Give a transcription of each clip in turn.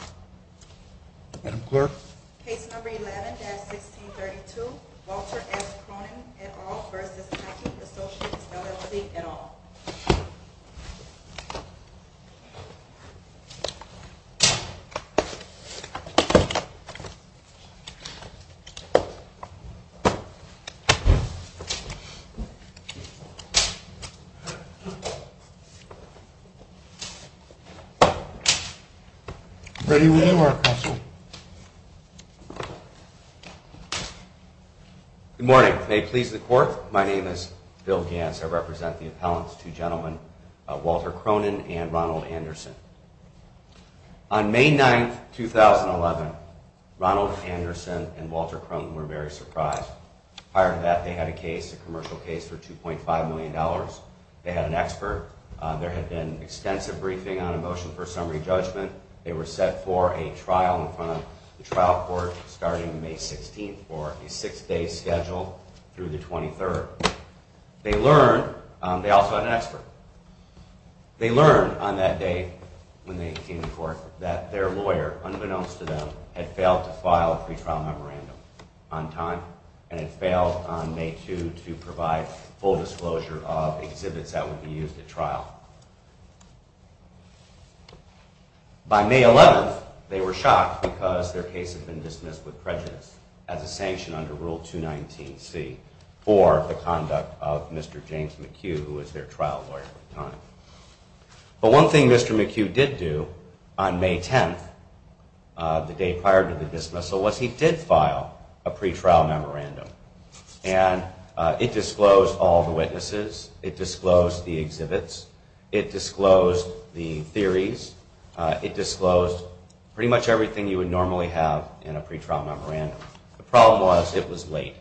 v. LFZ, et al. Good morning. May it please the Court, my name is Bill Gantz. I represent the appellants, two gentlemen, Walter Cronin and Ronald Anderson. On May 9, 2011, Ronald Anderson and Walter Cronin were very surprised. Prior to that, they had a case, a commercial case for $2.5 million. They had an expert. There had been extensive briefing on a motion for summary judgment. They were set for a trial in front of the trial court starting May 16, for a six-day schedule through the 23rd. They also had an expert. They learned on that day, when they came to court, that their lawyer, unbeknownst to them, had failed to file a pre-trial memorandum on time and had failed on May 2 to provide full disclosure of exhibits that would be used at trial. By May 11, they were shocked because their case had been dismissed with prejudice as a sanction under Rule 219C for the conduct of Mr. James McHugh, who was their trial lawyer at the time. But one thing Mr. McHugh did do on May 10, the day prior to the dismissal, was he did file a pre-trial memorandum. And it disclosed all the witnesses, it disclosed the exhibits, it disclosed the theories, it disclosed pretty much everything you would normally have in a pre-trial memorandum. The problem was, it was late.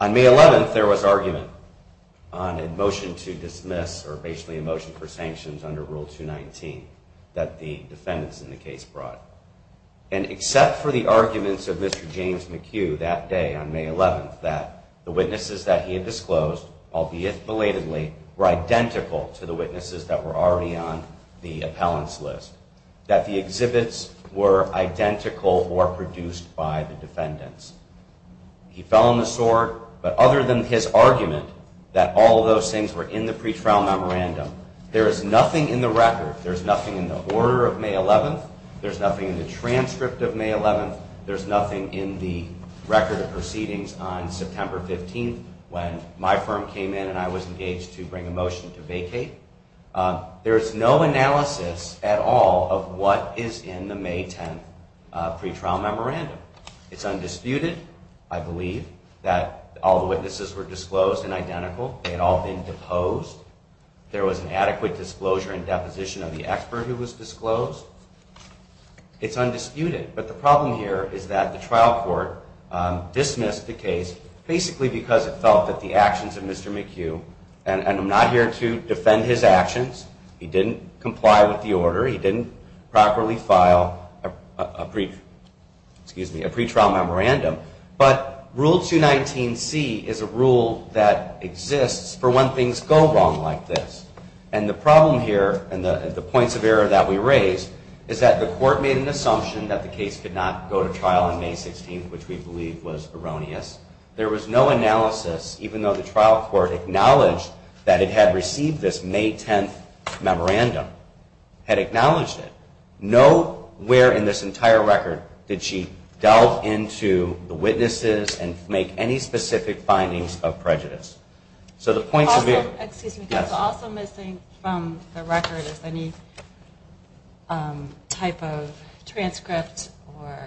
On May 11, there was argument on a motion to dismiss, or basically a motion for sanctions under Rule 219, that the defendants in the case brought. And except for the arguments of Mr. James McHugh that day on May 11, that the witnesses that he had disclosed, albeit belatedly, were identical to the witnesses that were already on the appellants list. That the exhibits were identical or produced by the defendants. He fell on the sword, but other than his argument that all those things were in the pre-trial memorandum, there is nothing in the record. There's nothing in the order of May 11, there's nothing in the transcript of May 11, there's nothing in the record of proceedings on September 15 when my firm came in and I was engaged to bring a motion to vacate. There is no analysis at all of what is in the May 10 pre-trial memorandum. It's undisputed, I believe, that all the witnesses were disclosed and identical. They had all been deposed. There was an adequate disclosure and deposition of the expert who was disclosed. It's undisputed. But the problem here is that the trial court dismissed the case basically because it felt that the actions of Mr. McHugh, and I'm not here to defend his actions, he didn't comply with the order. He didn't properly file a pre-trial memorandum. But Rule 219C is a rule that exists for when things go wrong like this. And the problem here, and the points of error that we raised, is that the court made an assumption that the case could not go to trial on May 16, which we believe was erroneous. There was no analysis, even though the trial court acknowledged that it had received this May 10 memorandum, had acknowledged it. Nowhere in this entire record did she delve into the witnesses and make any specific findings of prejudice. Also missing from the record is any type of transcript or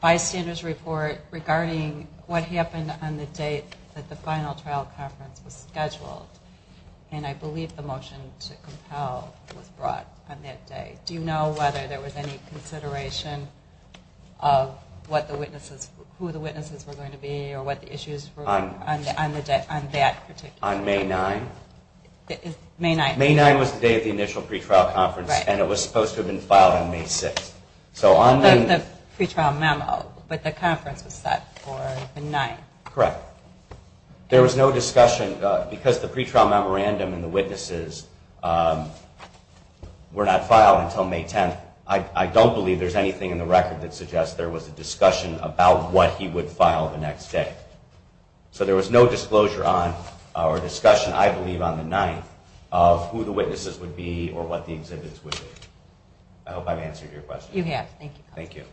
bystanders report regarding what happened on the date that the final trial conference was scheduled. And I believe the motion to compel was brought on that day. Do you know whether there was any consideration of who the witnesses were going to be or what the issues were on that particular day? On May 9? May 9. May 9 was the day of the initial pre-trial conference and it was supposed to have been filed on May 6. The pre-trial memo, but the conference was set for the 9th. Correct. There was no discussion, because the pre-trial memorandum and the witnesses were not filed until May 10, I don't believe there's anything in the record that suggests there was a discussion about what he would file the next day. So there was no disclosure on, or discussion I believe on the 9th, of who the witnesses would be or what the exhibits would be. I hope I've answered your question. You have. Thank you. Thank you.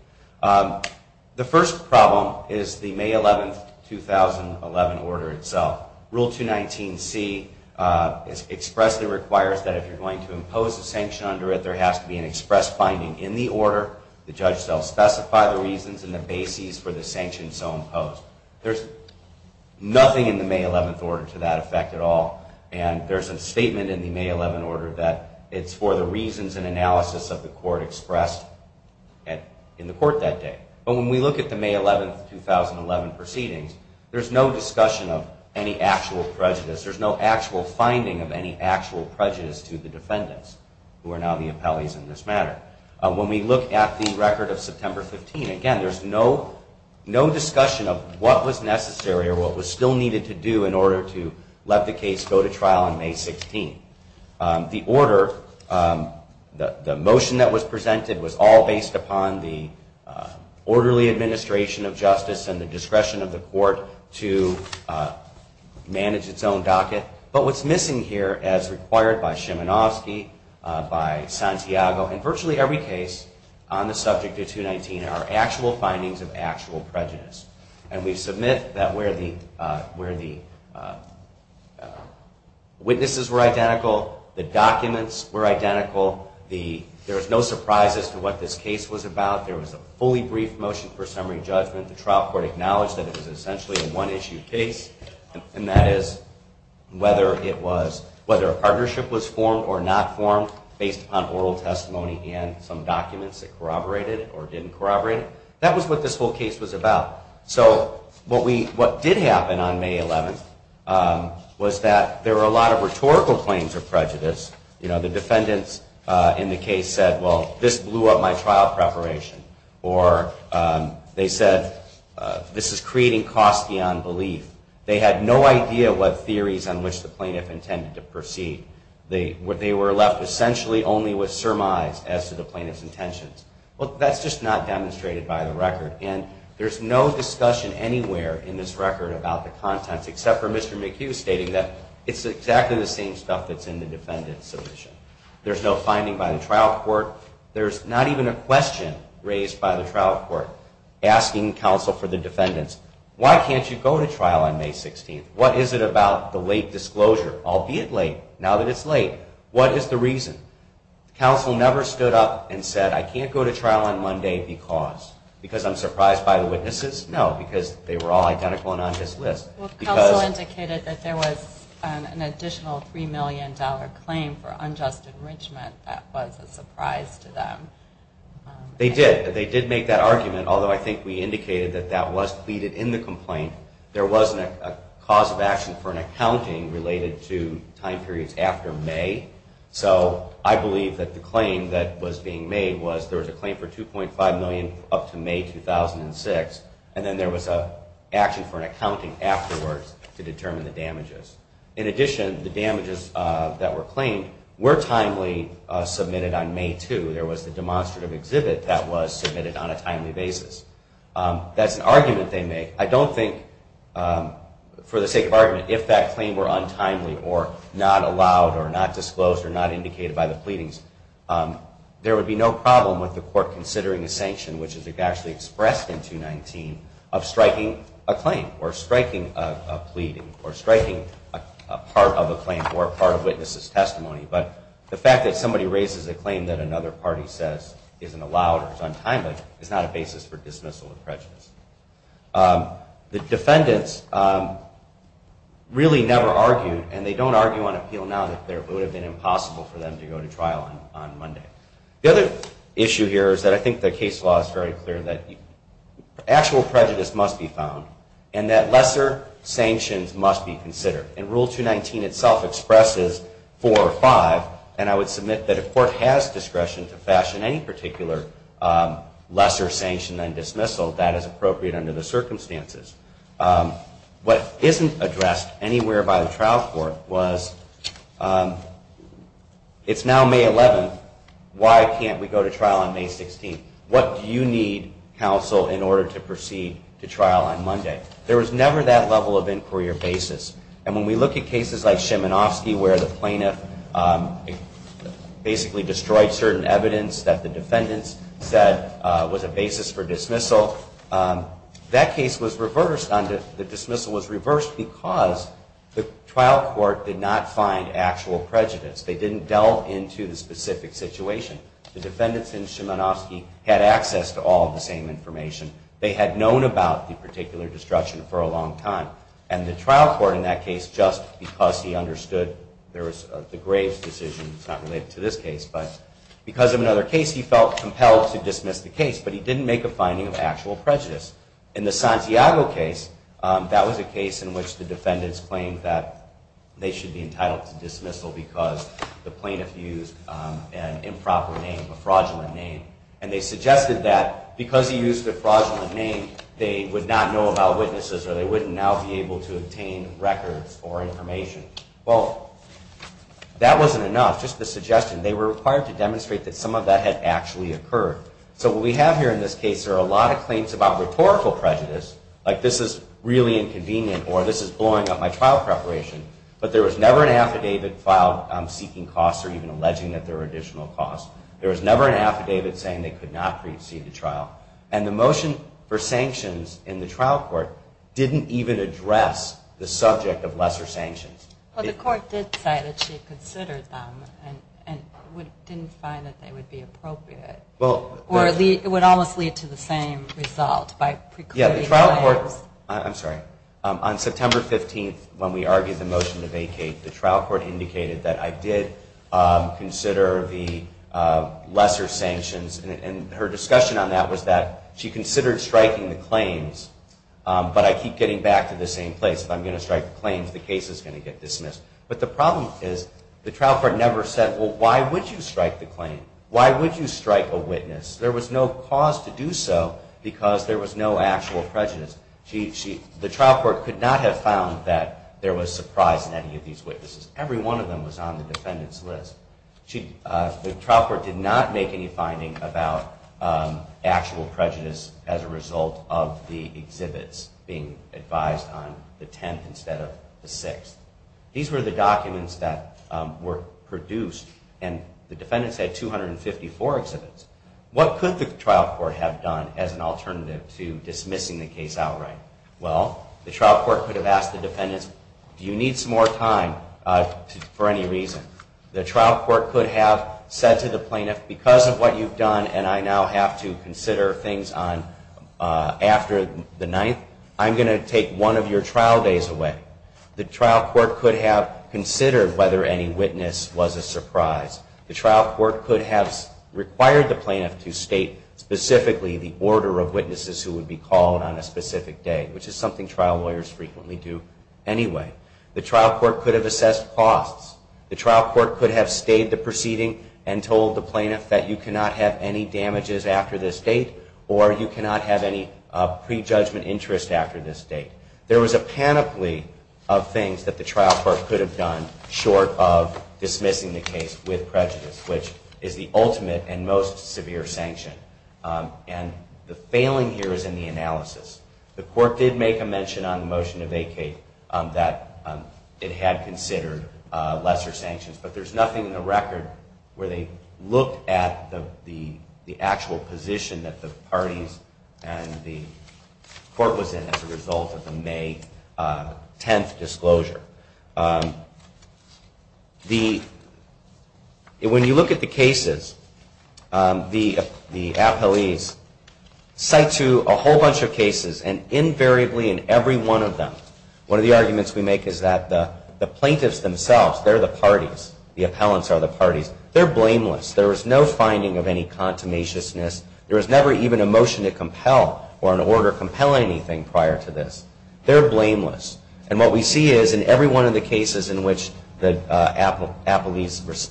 The first problem is the May 11, 2011 order itself. Rule 219C expressly requires that if you're going to impose a sanction under it, there has to be an express finding in the order. The judge shall specify the reasons and the basis for the sanction so imposed. There's nothing in the May 11 order to that effect at all. And there's a statement in the May 11 order that it's for the reasons and analysis of the court expressed in the court that day. But when we look at the May 11, 2011 proceedings, there's no discussion of any actual prejudice. There's no actual finding of any actual prejudice to the defendants, who are now the appellees in this matter. When we look at the record of September 15, again, there's no discussion of what was necessary or what was still needed to do in order to let the case go to trial on May 16. The order, the motion that was presented, was all based upon the orderly administration of justice and the discretion of the court to manage its own docket. But what's missing here, as required by Szymanowski, by Santiago, in virtually every case on the subject of 219, are actual findings of actual prejudice. And we submit that where the witnesses were identical, the documents were identical, there was no surprise as to what this case was about. There was a fully brief motion for summary judgment. The trial court acknowledged that it was essentially a one-issue case, and that is whether a partnership was formed or not formed based upon oral testimony and some documents that corroborated or didn't corroborate it. That was what this whole case was about. So what did happen on May 11 was that there were a lot of rhetorical claims of prejudice. You know, the defendants in the case said, well, this blew up my trial preparation. Or they said, this is creating costs beyond belief. They had no idea what theories on which the plaintiff intended to proceed. They were left essentially only with surmise as to the plaintiff's intentions. Well, that's just not demonstrated by the record. And there's no discussion anywhere in this record about the contents, except for Mr. McHugh stating that it's exactly the same stuff that's in the defendant's submission. There's no finding by the trial court. There's not even a question raised by the trial court asking counsel for the defendants, why can't you go to trial on May 16? What is it about the late disclosure, albeit late, now that it's late? What is the reason? Counsel never stood up and said, I can't go to trial on Monday because. Because I'm surprised by the witnesses? No, because they were all identical and on his list. Counsel indicated that there was an additional $3 million claim for unjust enrichment that was a surprise to them. They did. They did make that argument, although I think we indicated that that was pleaded in the complaint. There wasn't a cause of action for an accounting related to time periods after May. So I believe that the claim that was being made was there was a claim for $2.5 million up to May 2006. And then there was an action for an accounting afterwards to determine the damages. In addition, the damages that were claimed were timely submitted on May 2. There was the demonstrative exhibit that was submitted on a timely basis. That's an argument they make. I don't think, for the sake of argument, if that claim were untimely or not allowed or not disclosed or not indicated by the pleadings, there would be no problem with the court considering a sanction, which is actually expressed in 219, of striking a claim or striking a pleading or striking a part of a claim or a part of witnesses' testimony. But the fact that somebody raises a claim that another party says isn't allowed or is untimely is not a basis for dismissal of prejudice. The defendants really never argued, and they don't argue on appeal now, that it would have been impossible for them to go to trial on Monday. The other issue here is that I think the case law is very clear that actual prejudice must be found and that lesser sanctions must be considered. And Rule 219 itself expresses four or five. And I would submit that if court has discretion to fashion any particular lesser sanction than dismissal, that is appropriate under the circumstances. What isn't addressed anywhere by the trial court was, it's now May 11. Why can't we go to trial on May 16? What do you need, counsel, in order to proceed to trial on Monday? There was never that level of inquiry or basis. And when we look at cases like Szymanowski where the plaintiff basically destroyed certain evidence that the defendants said was a basis for dismissal, that case was reversed because the trial court did not find actual prejudice. They didn't delve into the specific situation. The defendants in Szymanowski had access to all of the same information. They had known about the particular destruction for a long time. And the trial court in that case, just because he understood the grave's decision, it's not related to this case, but because of another case, he felt compelled to dismiss the case. But he didn't make a finding of actual prejudice. In the Santiago case, that was a case in which the defendants claimed that they should be entitled to dismissal because the plaintiff used an improper name, a fraudulent name. And they suggested that because he used a fraudulent name, they would not know about witnesses or they wouldn't now be able to obtain records or information. Well, that wasn't enough, just the suggestion. They were required to demonstrate that some of that had actually occurred. So what we have here in this case, there are a lot of claims about rhetorical prejudice, like this is really inconvenient or this is blowing up my trial preparation, but there was never an affidavit filed seeking costs or even alleging that there were additional costs. There was never an affidavit saying they could not precede the trial. And the motion for sanctions in the trial court didn't even address the subject of lesser sanctions. But the court did say that she considered them and didn't find that they would be appropriate, or it would almost lead to the same result by precluding the claims. Yeah, the trial court, I'm sorry, on September 15th, when we argued the motion to vacate, the trial court indicated that I did consider the lesser sanctions. And her discussion on that was that she considered striking the claims, but I keep getting back to the same place. If I'm going to strike the claims, the case is going to get dismissed. But the problem is the trial court never said, well, why would you strike the claim? Why would you strike a witness? There was no cause to do so because there was no actual prejudice. The trial court could not have found that there was surprise in any of these witnesses. Every one of them was on the defendant's list. The trial court did not make any finding about actual prejudice as a result of the exhibits being advised on the 10th instead of the 6th. These were the documents that were produced, and the defendants had 254 exhibits. What could the trial court have done as an alternative to dismissing the case outright? Well, the trial court could have asked the defendants, do you need some more time for any reason? The trial court could have said to the plaintiff, because of what you've done and I now have to consider things after the 9th, I'm going to take one of your trial days away. The trial court could have considered whether any witness was a surprise. The trial court could have required the plaintiff to state specifically the order of witnesses who would be called on a specific day, which is something trial lawyers frequently do anyway. The trial court could have assessed costs. The trial court could have stayed the proceeding and told the plaintiff that you cannot have any damages after this date or you cannot have any prejudgment interest after this date. There was a panoply of things that the trial court could have done short of dismissing the case with prejudice, which is the ultimate and most severe sanction. And the failing here is in the analysis. The court did make a mention on the motion to vacate that it had considered lesser sanctions, but there's nothing in the record where they looked at the actual position that the parties and the court was in as a result of the May 10th disclosure. When you look at the cases, the appellees cite to a whole bunch of cases, and invariably in every one of them, one of the arguments we make is that the plaintiffs themselves, they're the parties, the appellants are the parties. They're blameless. There is no finding of any contumaciousness. There was never even a motion to compel or an order compelling anything prior to this. They're blameless. And what we see is in every one of the cases in which the appellees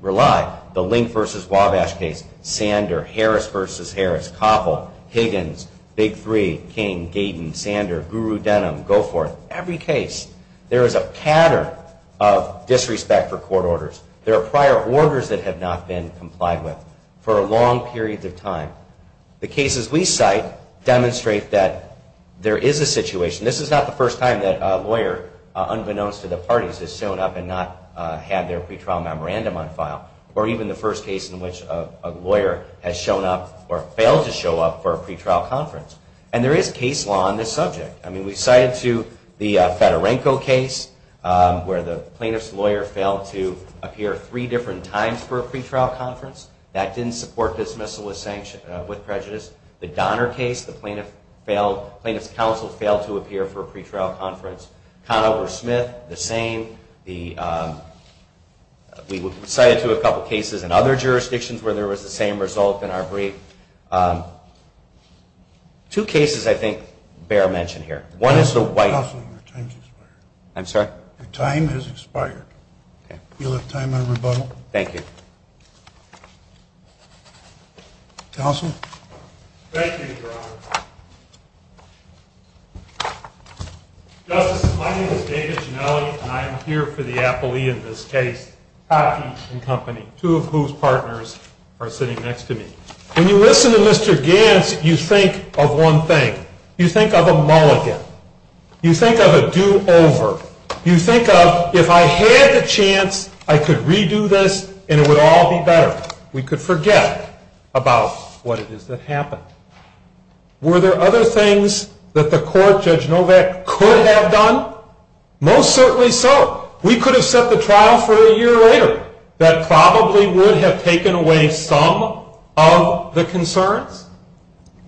rely, the Link v. Wabash case, Sander, Harris v. Harris, Koppel, Higgins, Big Three, King, Gaydon, Sander, Guru Denham, Goforth, every case there is a pattern of disrespect for court orders. There are prior orders that have not been complied with for a long period of time. The cases we cite demonstrate that there is a situation. This is not the first time that a lawyer, unbeknownst to the parties, has shown up and not had their pretrial memorandum on file, or even the first case in which a lawyer has shown up or failed to show up for a pretrial conference. And there is case law on this subject. I mean, we cited to the Fedorenko case where the plaintiff's lawyer failed to appear three different times for a pretrial conference. That didn't support dismissal with prejudice. The Donner case, the plaintiff's counsel failed to appear for a pretrial conference. Conover-Smith, the same. We cited to a couple cases in other jurisdictions where there was the same result in our brief. Two cases I think bear mention here. One is the White. Counselor, your time has expired. I'm sorry? Your time has expired. Okay. You'll have time on rebuttal. Thank you. Counselor? Thank you, Your Honor. Justice, my name is David Ginelli, and I am here for the appellee in this case, Hockey and Company, two of whose partners are sitting next to me. When you listen to Mr. Gantz, you think of one thing. You think of a mulligan. You think of a do-over. You think of, if I had the chance, I could redo this and it would all be better. We could forget about what it is that happened. Were there other things that the court, Judge Novak, could have done? Most certainly so. We could have set the trial for a year later. That probably would have taken away some of the concerns,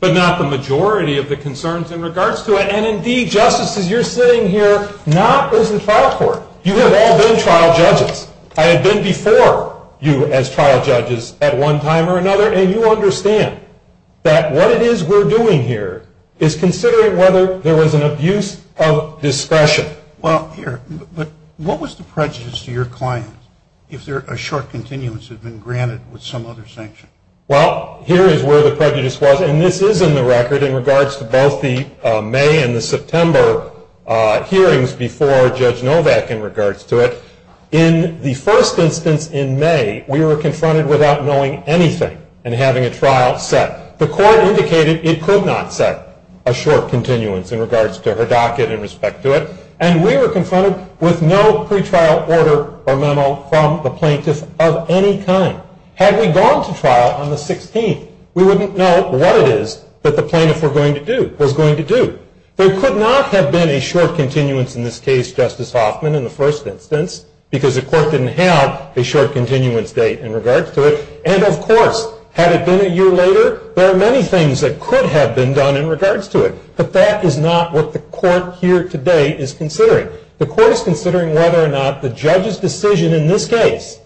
but not the majority of the concerns in regards to it. And, indeed, Justice, as you're sitting here, not as the trial court. You have all been trial judges. I have been before you as trial judges at one time or another, and you understand that what it is we're doing here is considering whether there was an abuse of discretion. Well, here, what was the prejudice to your client if a short continuance had been granted with some other sanction? Well, here is where the prejudice was, and this is in the record in regards to both the May and the September hearings before Judge Novak in regards to it. In the first instance in May, we were confronted without knowing anything and having a trial set. The court indicated it could not set a short continuance in regards to her docket in respect to it, and we were confronted with no pretrial order or memo from the plaintiff of any kind. Had we gone to trial on the 16th, we wouldn't know what it is that the plaintiff was going to do. There could not have been a short continuance in this case, Justice Hoffman, in the first instance, because the court didn't have a short continuance date in regards to it. And, of course, had it been a year later, there are many things that could have been done in regards to it, but that is not what the court here today is considering. The court is considering whether or not the judge's decision in this case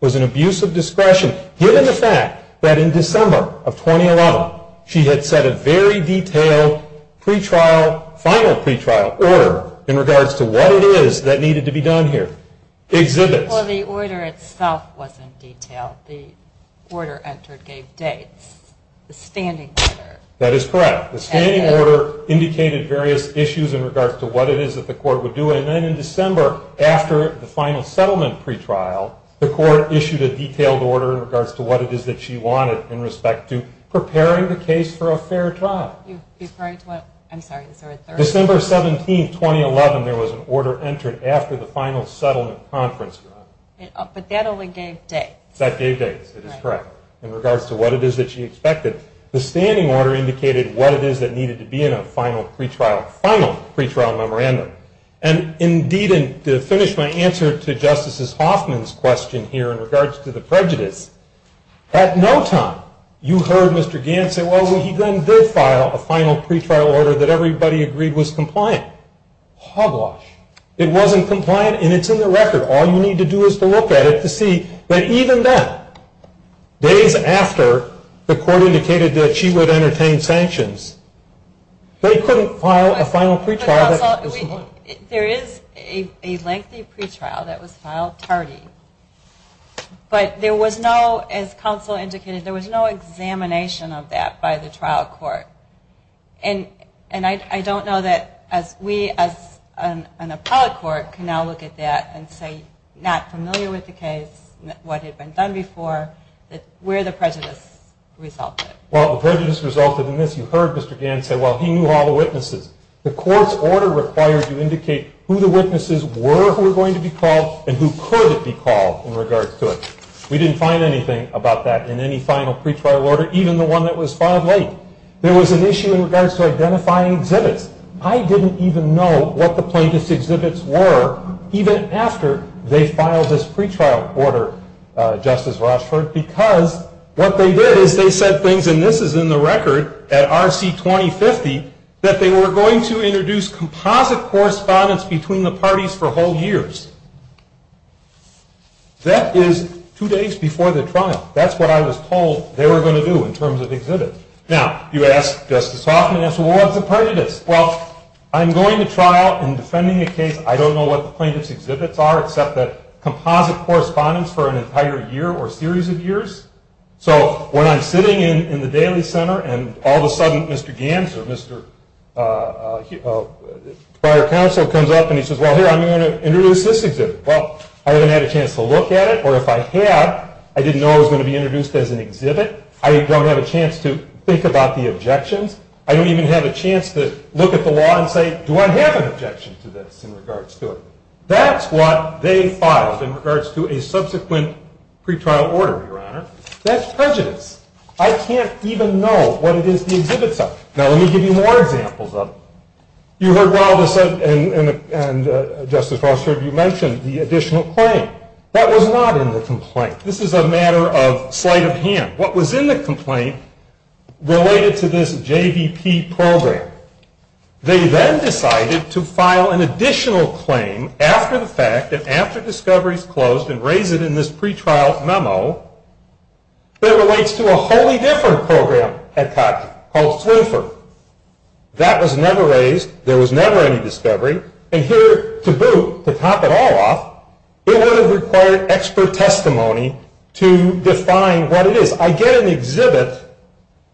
was an abuse of discretion, given the fact that in December of 2011, she had set a very detailed final pretrial order in regards to what it is that needed to be done here. Well, the order itself wasn't detailed. The order entered gave dates. The standing order. That is correct. The standing order indicated various issues in regards to what it is that the court would do, and then in December, after the final settlement pretrial, the court issued a detailed order in regards to what it is that she wanted in respect to preparing the case for a fair trial. December 17, 2011, there was an order entered after the final settlement conference trial. But that only gave dates. That gave dates. That is correct. In regards to what it is that she expected. The standing order indicated what it is that needed to be in a final pretrial. Final pretrial memorandum. And indeed, to finish my answer to Justice Hoffman's question here in regards to the prejudice, at no time you heard Mr. Gant say, well, he then did file a final pretrial order that everybody agreed was compliant. Hogwash. It wasn't compliant, and it's in the record. All you need to do is to look at it to see that even then, days after the court indicated that she would entertain sanctions, they couldn't file a final pretrial that was compliant. There is a lengthy pretrial that was filed tardy. But there was no, as counsel indicated, there was no examination of that by the trial court. And I don't know that we as an appellate court can now look at that and say, not familiar with the case, what had been done before, where the prejudice resulted. Well, the prejudice resulted in this. You heard Mr. Gant say, well, he knew all the witnesses. The court's order required to indicate who the witnesses were who were going to be called and who could be called in regards to it. We didn't find anything about that in any final pretrial order, even the one that was filed late. There was an issue in regards to identifying exhibits. I didn't even know what the plaintiff's exhibits were even after they filed this pretrial order, Justice Rochford, because what they did is they said things, and this is in the record at RC 2050, that they were going to introduce composite correspondence between the parties for whole years. That is two days before the trial. That's what I was told they were going to do in terms of exhibits. Now, you ask Justice Hoffman, well, what's a prejudice? Well, I'm going to trial and defending a case, I don't know what the plaintiff's exhibits are except that composite correspondence for an entire year or series of years. So when I'm sitting in the Daly Center and all of a sudden Mr. Gant or Mr. prior counsel comes up and he says, well, here, I'm going to introduce this exhibit. Well, I haven't had a chance to look at it, or if I had, I didn't know it was going to be introduced as an exhibit. I don't have a chance to think about the objections. I don't even have a chance to look at the law and say, do I have an objection to this in regards to it? That's what they filed in regards to a subsequent pretrial order, Your Honor. That's prejudice. I can't even know what it is the exhibits are. Now, let me give you more examples of it. You heard well, Justice Rochford, you mentioned the additional claim. That was not in the complaint. This is a matter of sleight of hand. What was in the complaint related to this JVP program. They then decided to file an additional claim after the fact, and after discovery is closed, and raise it in this pretrial memo that relates to a wholly different program at COTC called SLUFR. That was never raised. There was never any discovery. And here, to boot, to top it all off, it would have required expert testimony to define what it is. I get an exhibit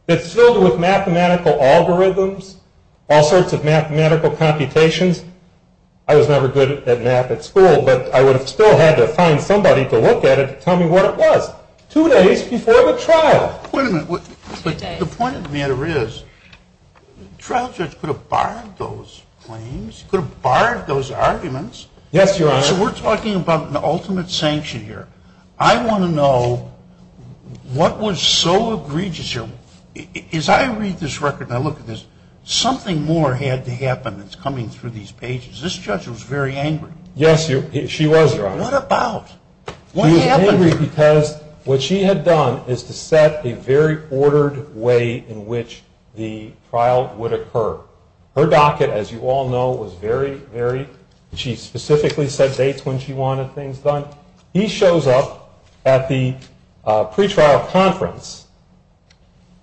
that's filled with mathematical algorithms, all sorts of mathematical computations. I was never good at math at school, but I would have still had to find somebody to look at it to tell me what it was. Two days before the trial. The point of the matter is, the trial judge could have barred those claims, could have barred those arguments. Yes, Your Honor. So we're talking about an ultimate sanction here. I want to know what was so egregious here. As I read this record and I look at this, something more had to happen that's coming through these pages. This judge was very angry. Yes, she was, Your Honor. What about? She was angry because what she had done is to set a very ordered way in which the trial would occur. Her docket, as you all know, was very, very, she specifically set dates when she wanted things done. He shows up at the pretrial conference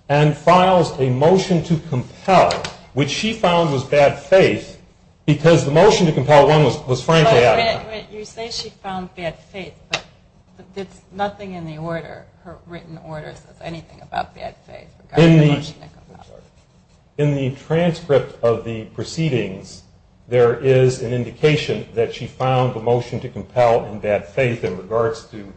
and files a motion to compel, which she found was bad faith, because the motion to compel one was frankly out of bounds. You say she found bad faith, but there's nothing in the order, her written order, that says anything about bad faith regarding the motion to compel. In the transcript of the proceedings, there is an indication that she found a motion to compel in bad faith in regards to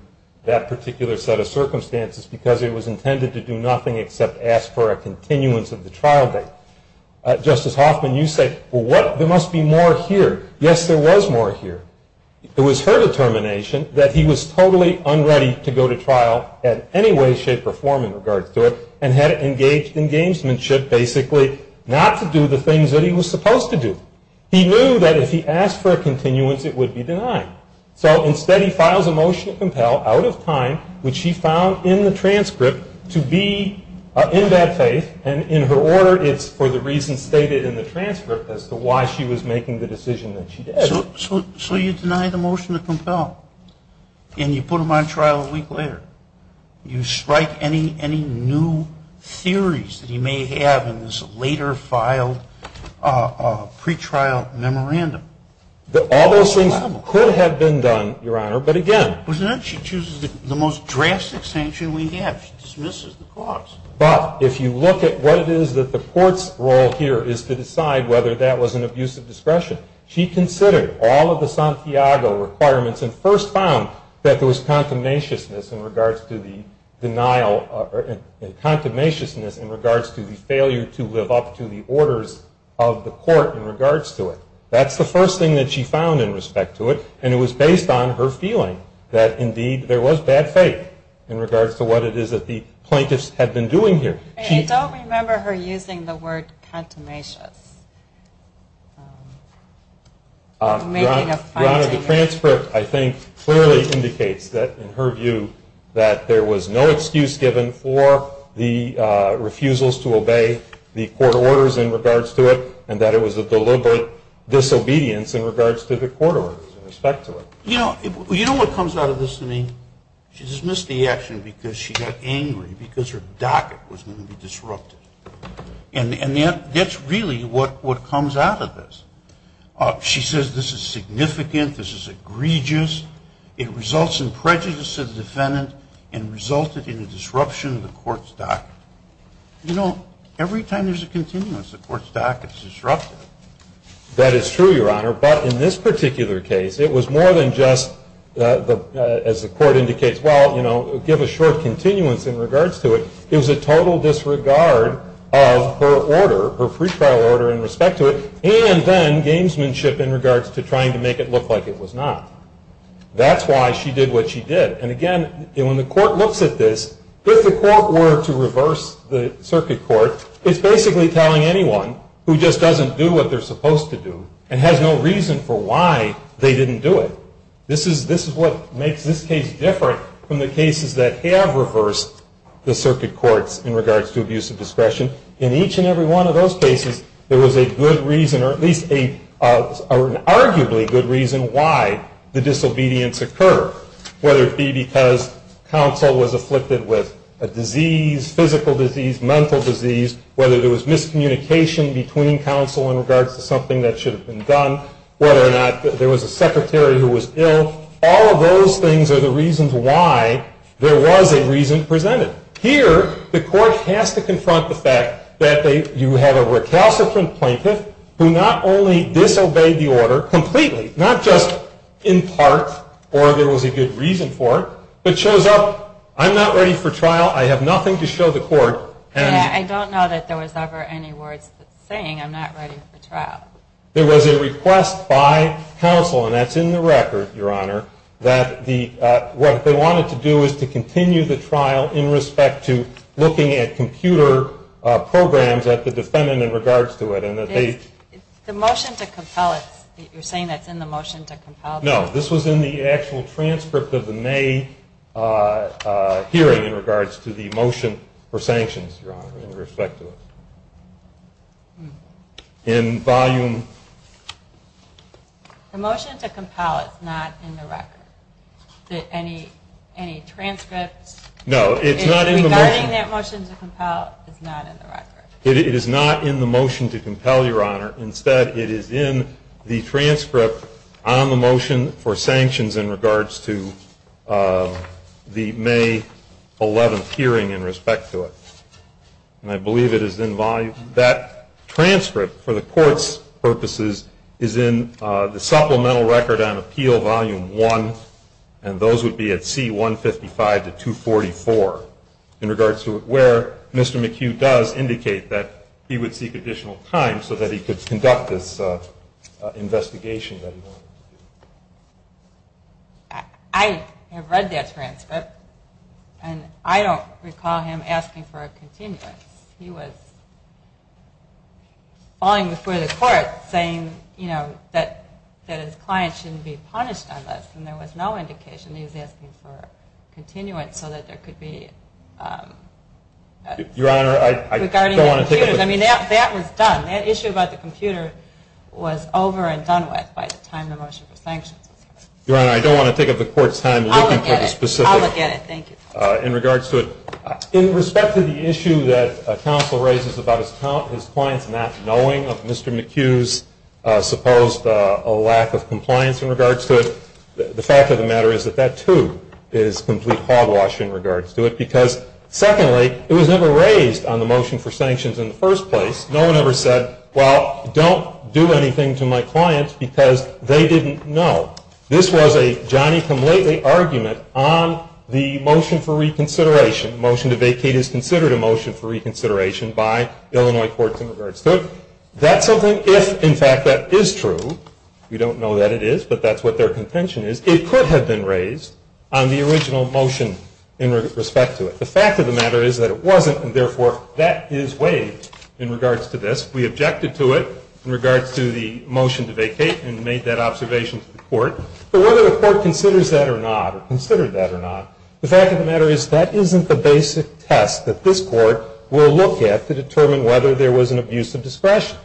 that particular set of circumstances because it was intended to do nothing except ask for a continuance of the trial date. Justice Hoffman, you say, well, what? There must be more here. Yes, there was more here. It was her determination that he was totally unready to go to trial in any way, shape, or form in regards to it and had engaged in gamesmanship basically not to do the things that he was supposed to do. He knew that if he asked for a continuance, it would be denied. So instead, he files a motion to compel out of time, which he found in the transcript to be in bad faith, and in her order, it's for the reasons stated in the transcript as to why she was making the decision that she did. So you deny the motion to compel, and you put him on trial a week later. You strike any new theories that he may have in this later filed pretrial memorandum. All those things could have been done, Your Honor, but again. But then she chooses the most drastic sanction we have. She dismisses the cause. But if you look at what it is that the court's role here is to decide whether that was an abuse of discretion, she considered all of the Santiago requirements and first found that there was contumaciousness in regards to the denial, or contumaciousness in regards to the failure to live up to the orders of the court in regards to it. That's the first thing that she found in respect to it, and it was based on her feeling that indeed there was bad faith in regards to what it is that the plaintiffs had been doing here. I don't remember her using the word contumacious. Your Honor, the transcript, I think, clearly indicates that, in her view, that there was no excuse given for the refusals to obey the court orders in regards to it, and that it was a deliberate disobedience in regards to the court orders in respect to it. You know what comes out of this to me? She dismissed the action because she got angry because her docket was going to be disrupted. And that's really what comes out of this. She says this is significant, this is egregious, it results in prejudice of the defendant and resulted in a disruption of the court's docket. You know, every time there's a continuance, the court's docket is disrupted. That is true, Your Honor. But in this particular case, it was more than just, as the court indicates, well, you know, give a short continuance in regards to it. It was a total disregard of her order, her free trial order in respect to it, and then gamesmanship in regards to trying to make it look like it was not. That's why she did what she did. And again, when the court looks at this, if the court were to reverse the circuit court, it's basically telling anyone who just doesn't do what they're supposed to do and has no reason for why they didn't do it. This is what makes this case different from the cases that have reversed the circuit courts in regards to abuse of discretion. In each and every one of those cases, there was a good reason, or at least an arguably good reason why the disobedience occurred, whether it be because counsel was afflicted with a disease, physical disease, mental disease, whether there was miscommunication between counsel in regards to something that should have been done, whether or not there was a secretary who was ill. All of those things are the reasons why there was a reason presented. Here, the court has to confront the fact that you have a recalcitrant plaintiff who not only disobeyed the order completely, not just in part, or there was a good reason for it, but shows up, I'm not ready for trial, I have nothing to show the court. I don't know that there was ever any words saying I'm not ready for trial. There was a request by counsel, and that's in the record, Your Honor, that what they wanted to do is to continue the trial in respect to looking at computer programs at the defendant in regards to it. The motion to compel it, you're saying that's in the motion to compel it? No, this was in the actual transcript of the May hearing in regards to the motion for sanctions, Your Honor, in respect to it. In volume? The motion to compel it is not in the record. Any transcripts? No, it's not in the motion. Regarding that motion to compel, it's not in the record. It is not in the motion to compel, Your Honor. Instead, it is in the transcript on the motion for sanctions in regards to the May 11th hearing in respect to it. And I believe it is in volume. That transcript, for the court's purposes, is in the Supplemental Record on Appeal, Volume 1, and those would be at C-155 to 244, in regards to where Mr. McHugh does indicate that he would seek additional time so that he could conduct this investigation that he wanted to do. I have read that transcript, and I don't recall him asking for a continuance. He was falling before the court saying, you know, that his client shouldn't be punished unless, and there was no indication he was asking for a continuance so that there could be, regarding the computers. I mean, that was done. That issue about the computer was over and done with by the time the motion for sanctions was passed. Your Honor, I don't want to take up the court's time looking for the specifics. I'll look at it. Thank you. In respect to the issue that counsel raises about his client's not knowing of Mr. McHugh's supposed lack of compliance in regards to it, the fact of the matter is that that, too, is complete hogwash in regards to it because, secondly, it was never raised on the motion for sanctions in the first place. No one ever said, well, don't do anything to my client because they didn't know. This was a Johnny-come-lately argument on the motion for reconsideration. The motion to vacate is considered a motion for reconsideration by Illinois courts in regards to it. That's something if, in fact, that is true. We don't know that it is, but that's what their contention is. It could have been raised on the original motion in respect to it. The fact of the matter is that it wasn't, and, therefore, that is waived in regards to this. We objected to it in regards to the motion to vacate and made that observation to the court. But whether the court considers that or not or considered that or not, the fact of the matter is that isn't the basic test that this court will look at to determine whether there was an abuse of discretion.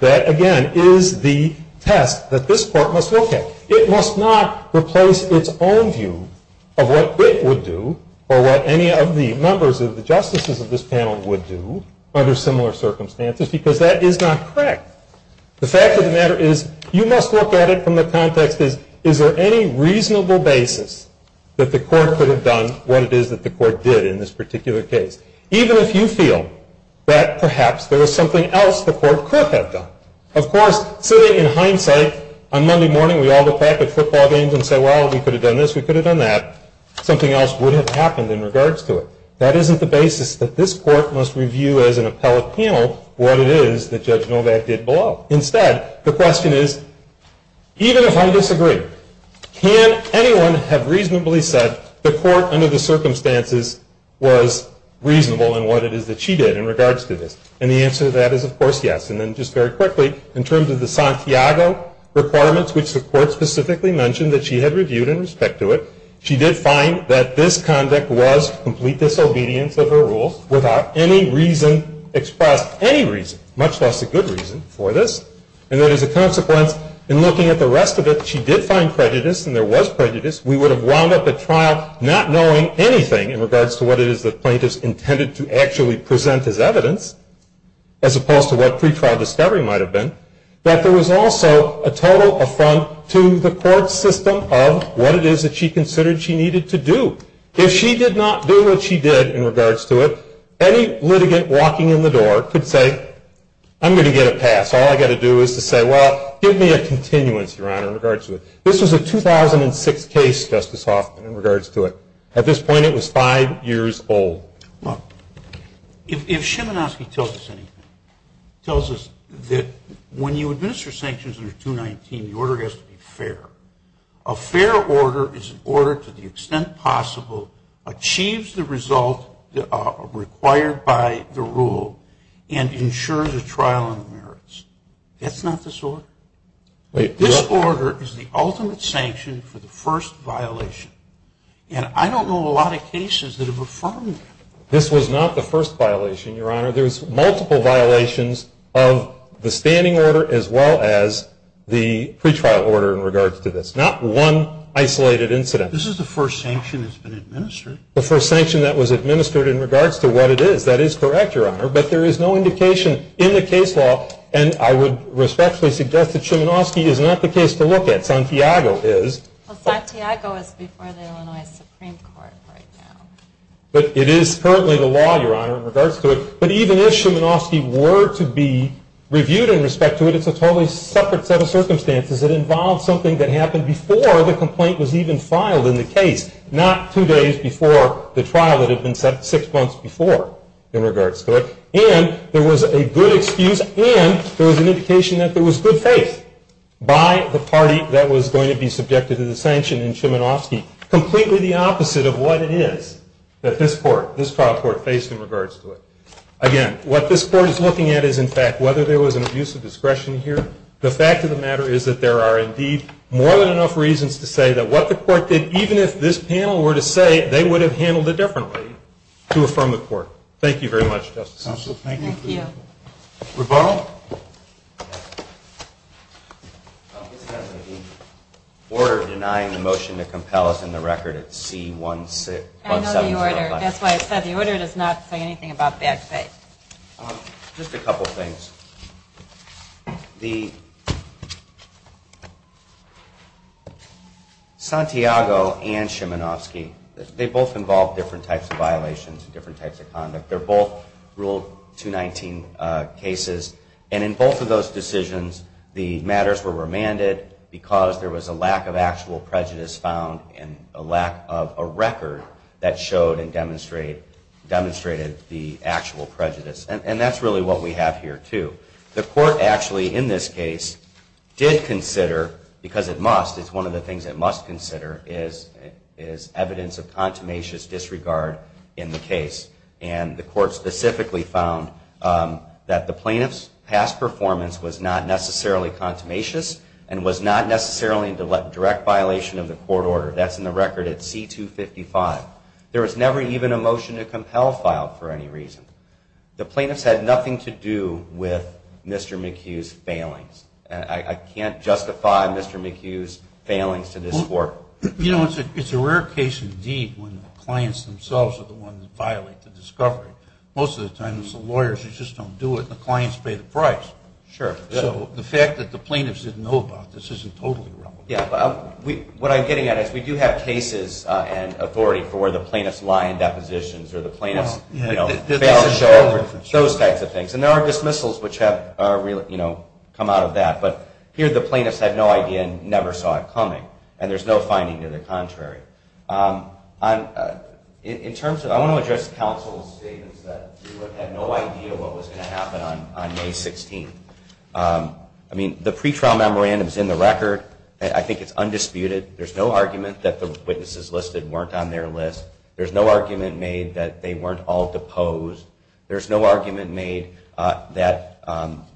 That, again, is the test that this court must look at. It must not replace its own view of what it would do or what any of the members of the justices of this panel would do under similar circumstances because that is not correct. The fact of the matter is you must look at it from the context is, is there any reasonable basis that the court could have done what it is that the court did in this particular case? Even if you feel that perhaps there was something else the court could have done. Of course, sitting in hindsight, on Monday morning we all go back at football games and say, well, we could have done this, we could have done that. Something else would have happened in regards to it. That isn't the basis that this court must review as an appellate panel what it is that Judge Novak did below. Instead, the question is, even if I disagree, can anyone have reasonably said the court, under the circumstances, was reasonable in what it is that she did in regards to this? And the answer to that is, of course, yes. And then just very quickly, in terms of the Santiago requirements, which the court specifically mentioned that she had reviewed in respect to it, she did find that this conduct was complete disobedience of her rules without any reason expressed. Any reason, much less a good reason for this. And that as a consequence, in looking at the rest of it, she did find prejudice and there was prejudice. We would have wound up at trial not knowing anything in regards to what it is that plaintiffs intended to actually present as evidence, as opposed to what pretrial discovery might have been, that there was also a total affront to the court's system of what it is that she considered she needed to do. If she did not do what she did in regards to it, any litigant walking in the door could say, I'm going to get a pass. All I've got to do is to say, well, give me a continuance, Your Honor, in regards to it. This was a 2006 case, Justice Hoffman, in regards to it. At this point, it was five years old. Look, if Szymanowski tells us anything, tells us that when you administer sanctions under 219, the order has to be fair. A fair order is an order to the extent possible, achieves the result required by the rule, and ensures a trial on the merits. That's not this order. This order is the ultimate sanction for the first violation, and I don't know a lot of cases that have affirmed that. This was not the first violation, Your Honor. There's multiple violations of the standing order as well as the pretrial order in regards to this. Not one isolated incident. This is the first sanction that's been administered. The first sanction that was administered in regards to what it is. That is correct, Your Honor, but there is no indication in the case law, and I would respectfully suggest that Szymanowski is not the case to look at. Santiago is. Well, Santiago is before the Illinois Supreme Court right now. But it is currently the law, Your Honor, in regards to it. But even if Szymanowski were to be reviewed in respect to it, it's a totally separate set of circumstances. It involves something that happened before the complaint was even filed in the case, not two days before the trial that had been set six months before in regards to it. And there was a good excuse and there was an indication that there was good faith by the party that was going to be subjected to the sanction in Szymanowski. Completely the opposite of what it is that this court, this trial court, faced in regards to it. Again, what this court is looking at is, in fact, whether there was an abuse of discretion here. The fact of the matter is that there are indeed more than enough reasons to say that what the court did, even if this panel were to say they would have handled it differently to affirm the court. Thank you very much, Justice O'Sullivan. Thank you. Thank you. Rebono? This has to do with the order denying the motion to compel us in the record at C-175. I know the order. That's why I said the order does not say anything about bad faith. Just a couple things. The Santiago and Szymanowski, they both involved different types of violations, different types of conduct. They're both Rule 219 cases. And in both of those decisions, the matters were remanded because there was a lack of actual prejudice found and a lack of a record that showed and demonstrated the actual prejudice. And that's really what we have here, too. The court actually, in this case, did consider, because it must, it's one of the things it must consider, is evidence of contumacious disregard in the case. And the court specifically found that the plaintiff's past performance was not necessarily contumacious and was not necessarily a direct violation of the court order. That's in the record at C-255. There was never even a motion to compel filed for any reason. The plaintiffs had nothing to do with Mr. McHugh's failings. I can't justify Mr. McHugh's failings to this court. You know, it's a rare case indeed when the clients themselves are the ones that violate the discovery. Most of the time it's the lawyers who just don't do it and the clients pay the price. So the fact that the plaintiffs didn't know about this isn't totally relevant. What I'm getting at is we do have cases and authority for where the plaintiffs lie in depositions or the plaintiffs fail to show over, those types of things. And there are dismissals which have come out of that. But here the plaintiffs had no idea and never saw it coming. And there's no finding to the contrary. In terms of, I want to address counsel's statements that we had no idea what was going to happen on May 16th. I mean, the pretrial memorandum is in the record. I think it's undisputed. There's no argument that the witnesses listed weren't on their list. There's no argument made that they weren't all deposed. There's no argument made that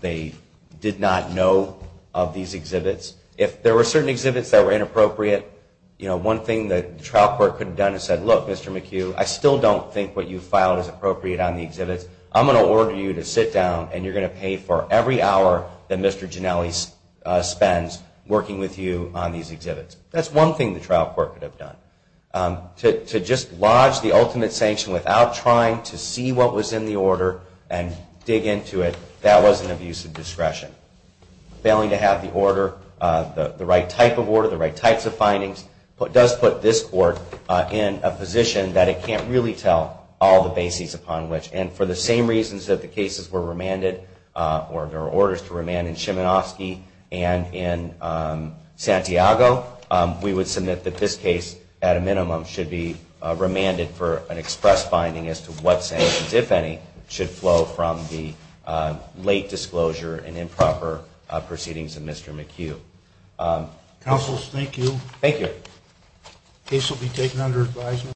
they did not know of these exhibits. If there were certain exhibits that were inappropriate, you know, one thing that the trial court could have done is said, look, Mr. McHugh, I still don't think what you filed is appropriate on the exhibits. I'm going to order you to sit down and you're going to pay for every hour that Mr. Ginelli spends working with you on these exhibits. That's one thing the trial court could have done. To just lodge the ultimate sanction without trying to see what was in the order and dig into it, that was an abuse of discretion. Failing to have the order, the right type of order, the right types of findings, does put this court in a position that it can't really tell all the bases upon which. And for the same reasons that the cases were remanded, or there were orders to remand in Szymanowski and in Santiago, we would submit that this case at a minimum should be remanded for an express finding as to what sanctions, if any, should flow from the late disclosure and improper proceedings of Mr. McHugh. Counsel, thank you. Thank you. The case will be taken under advisement.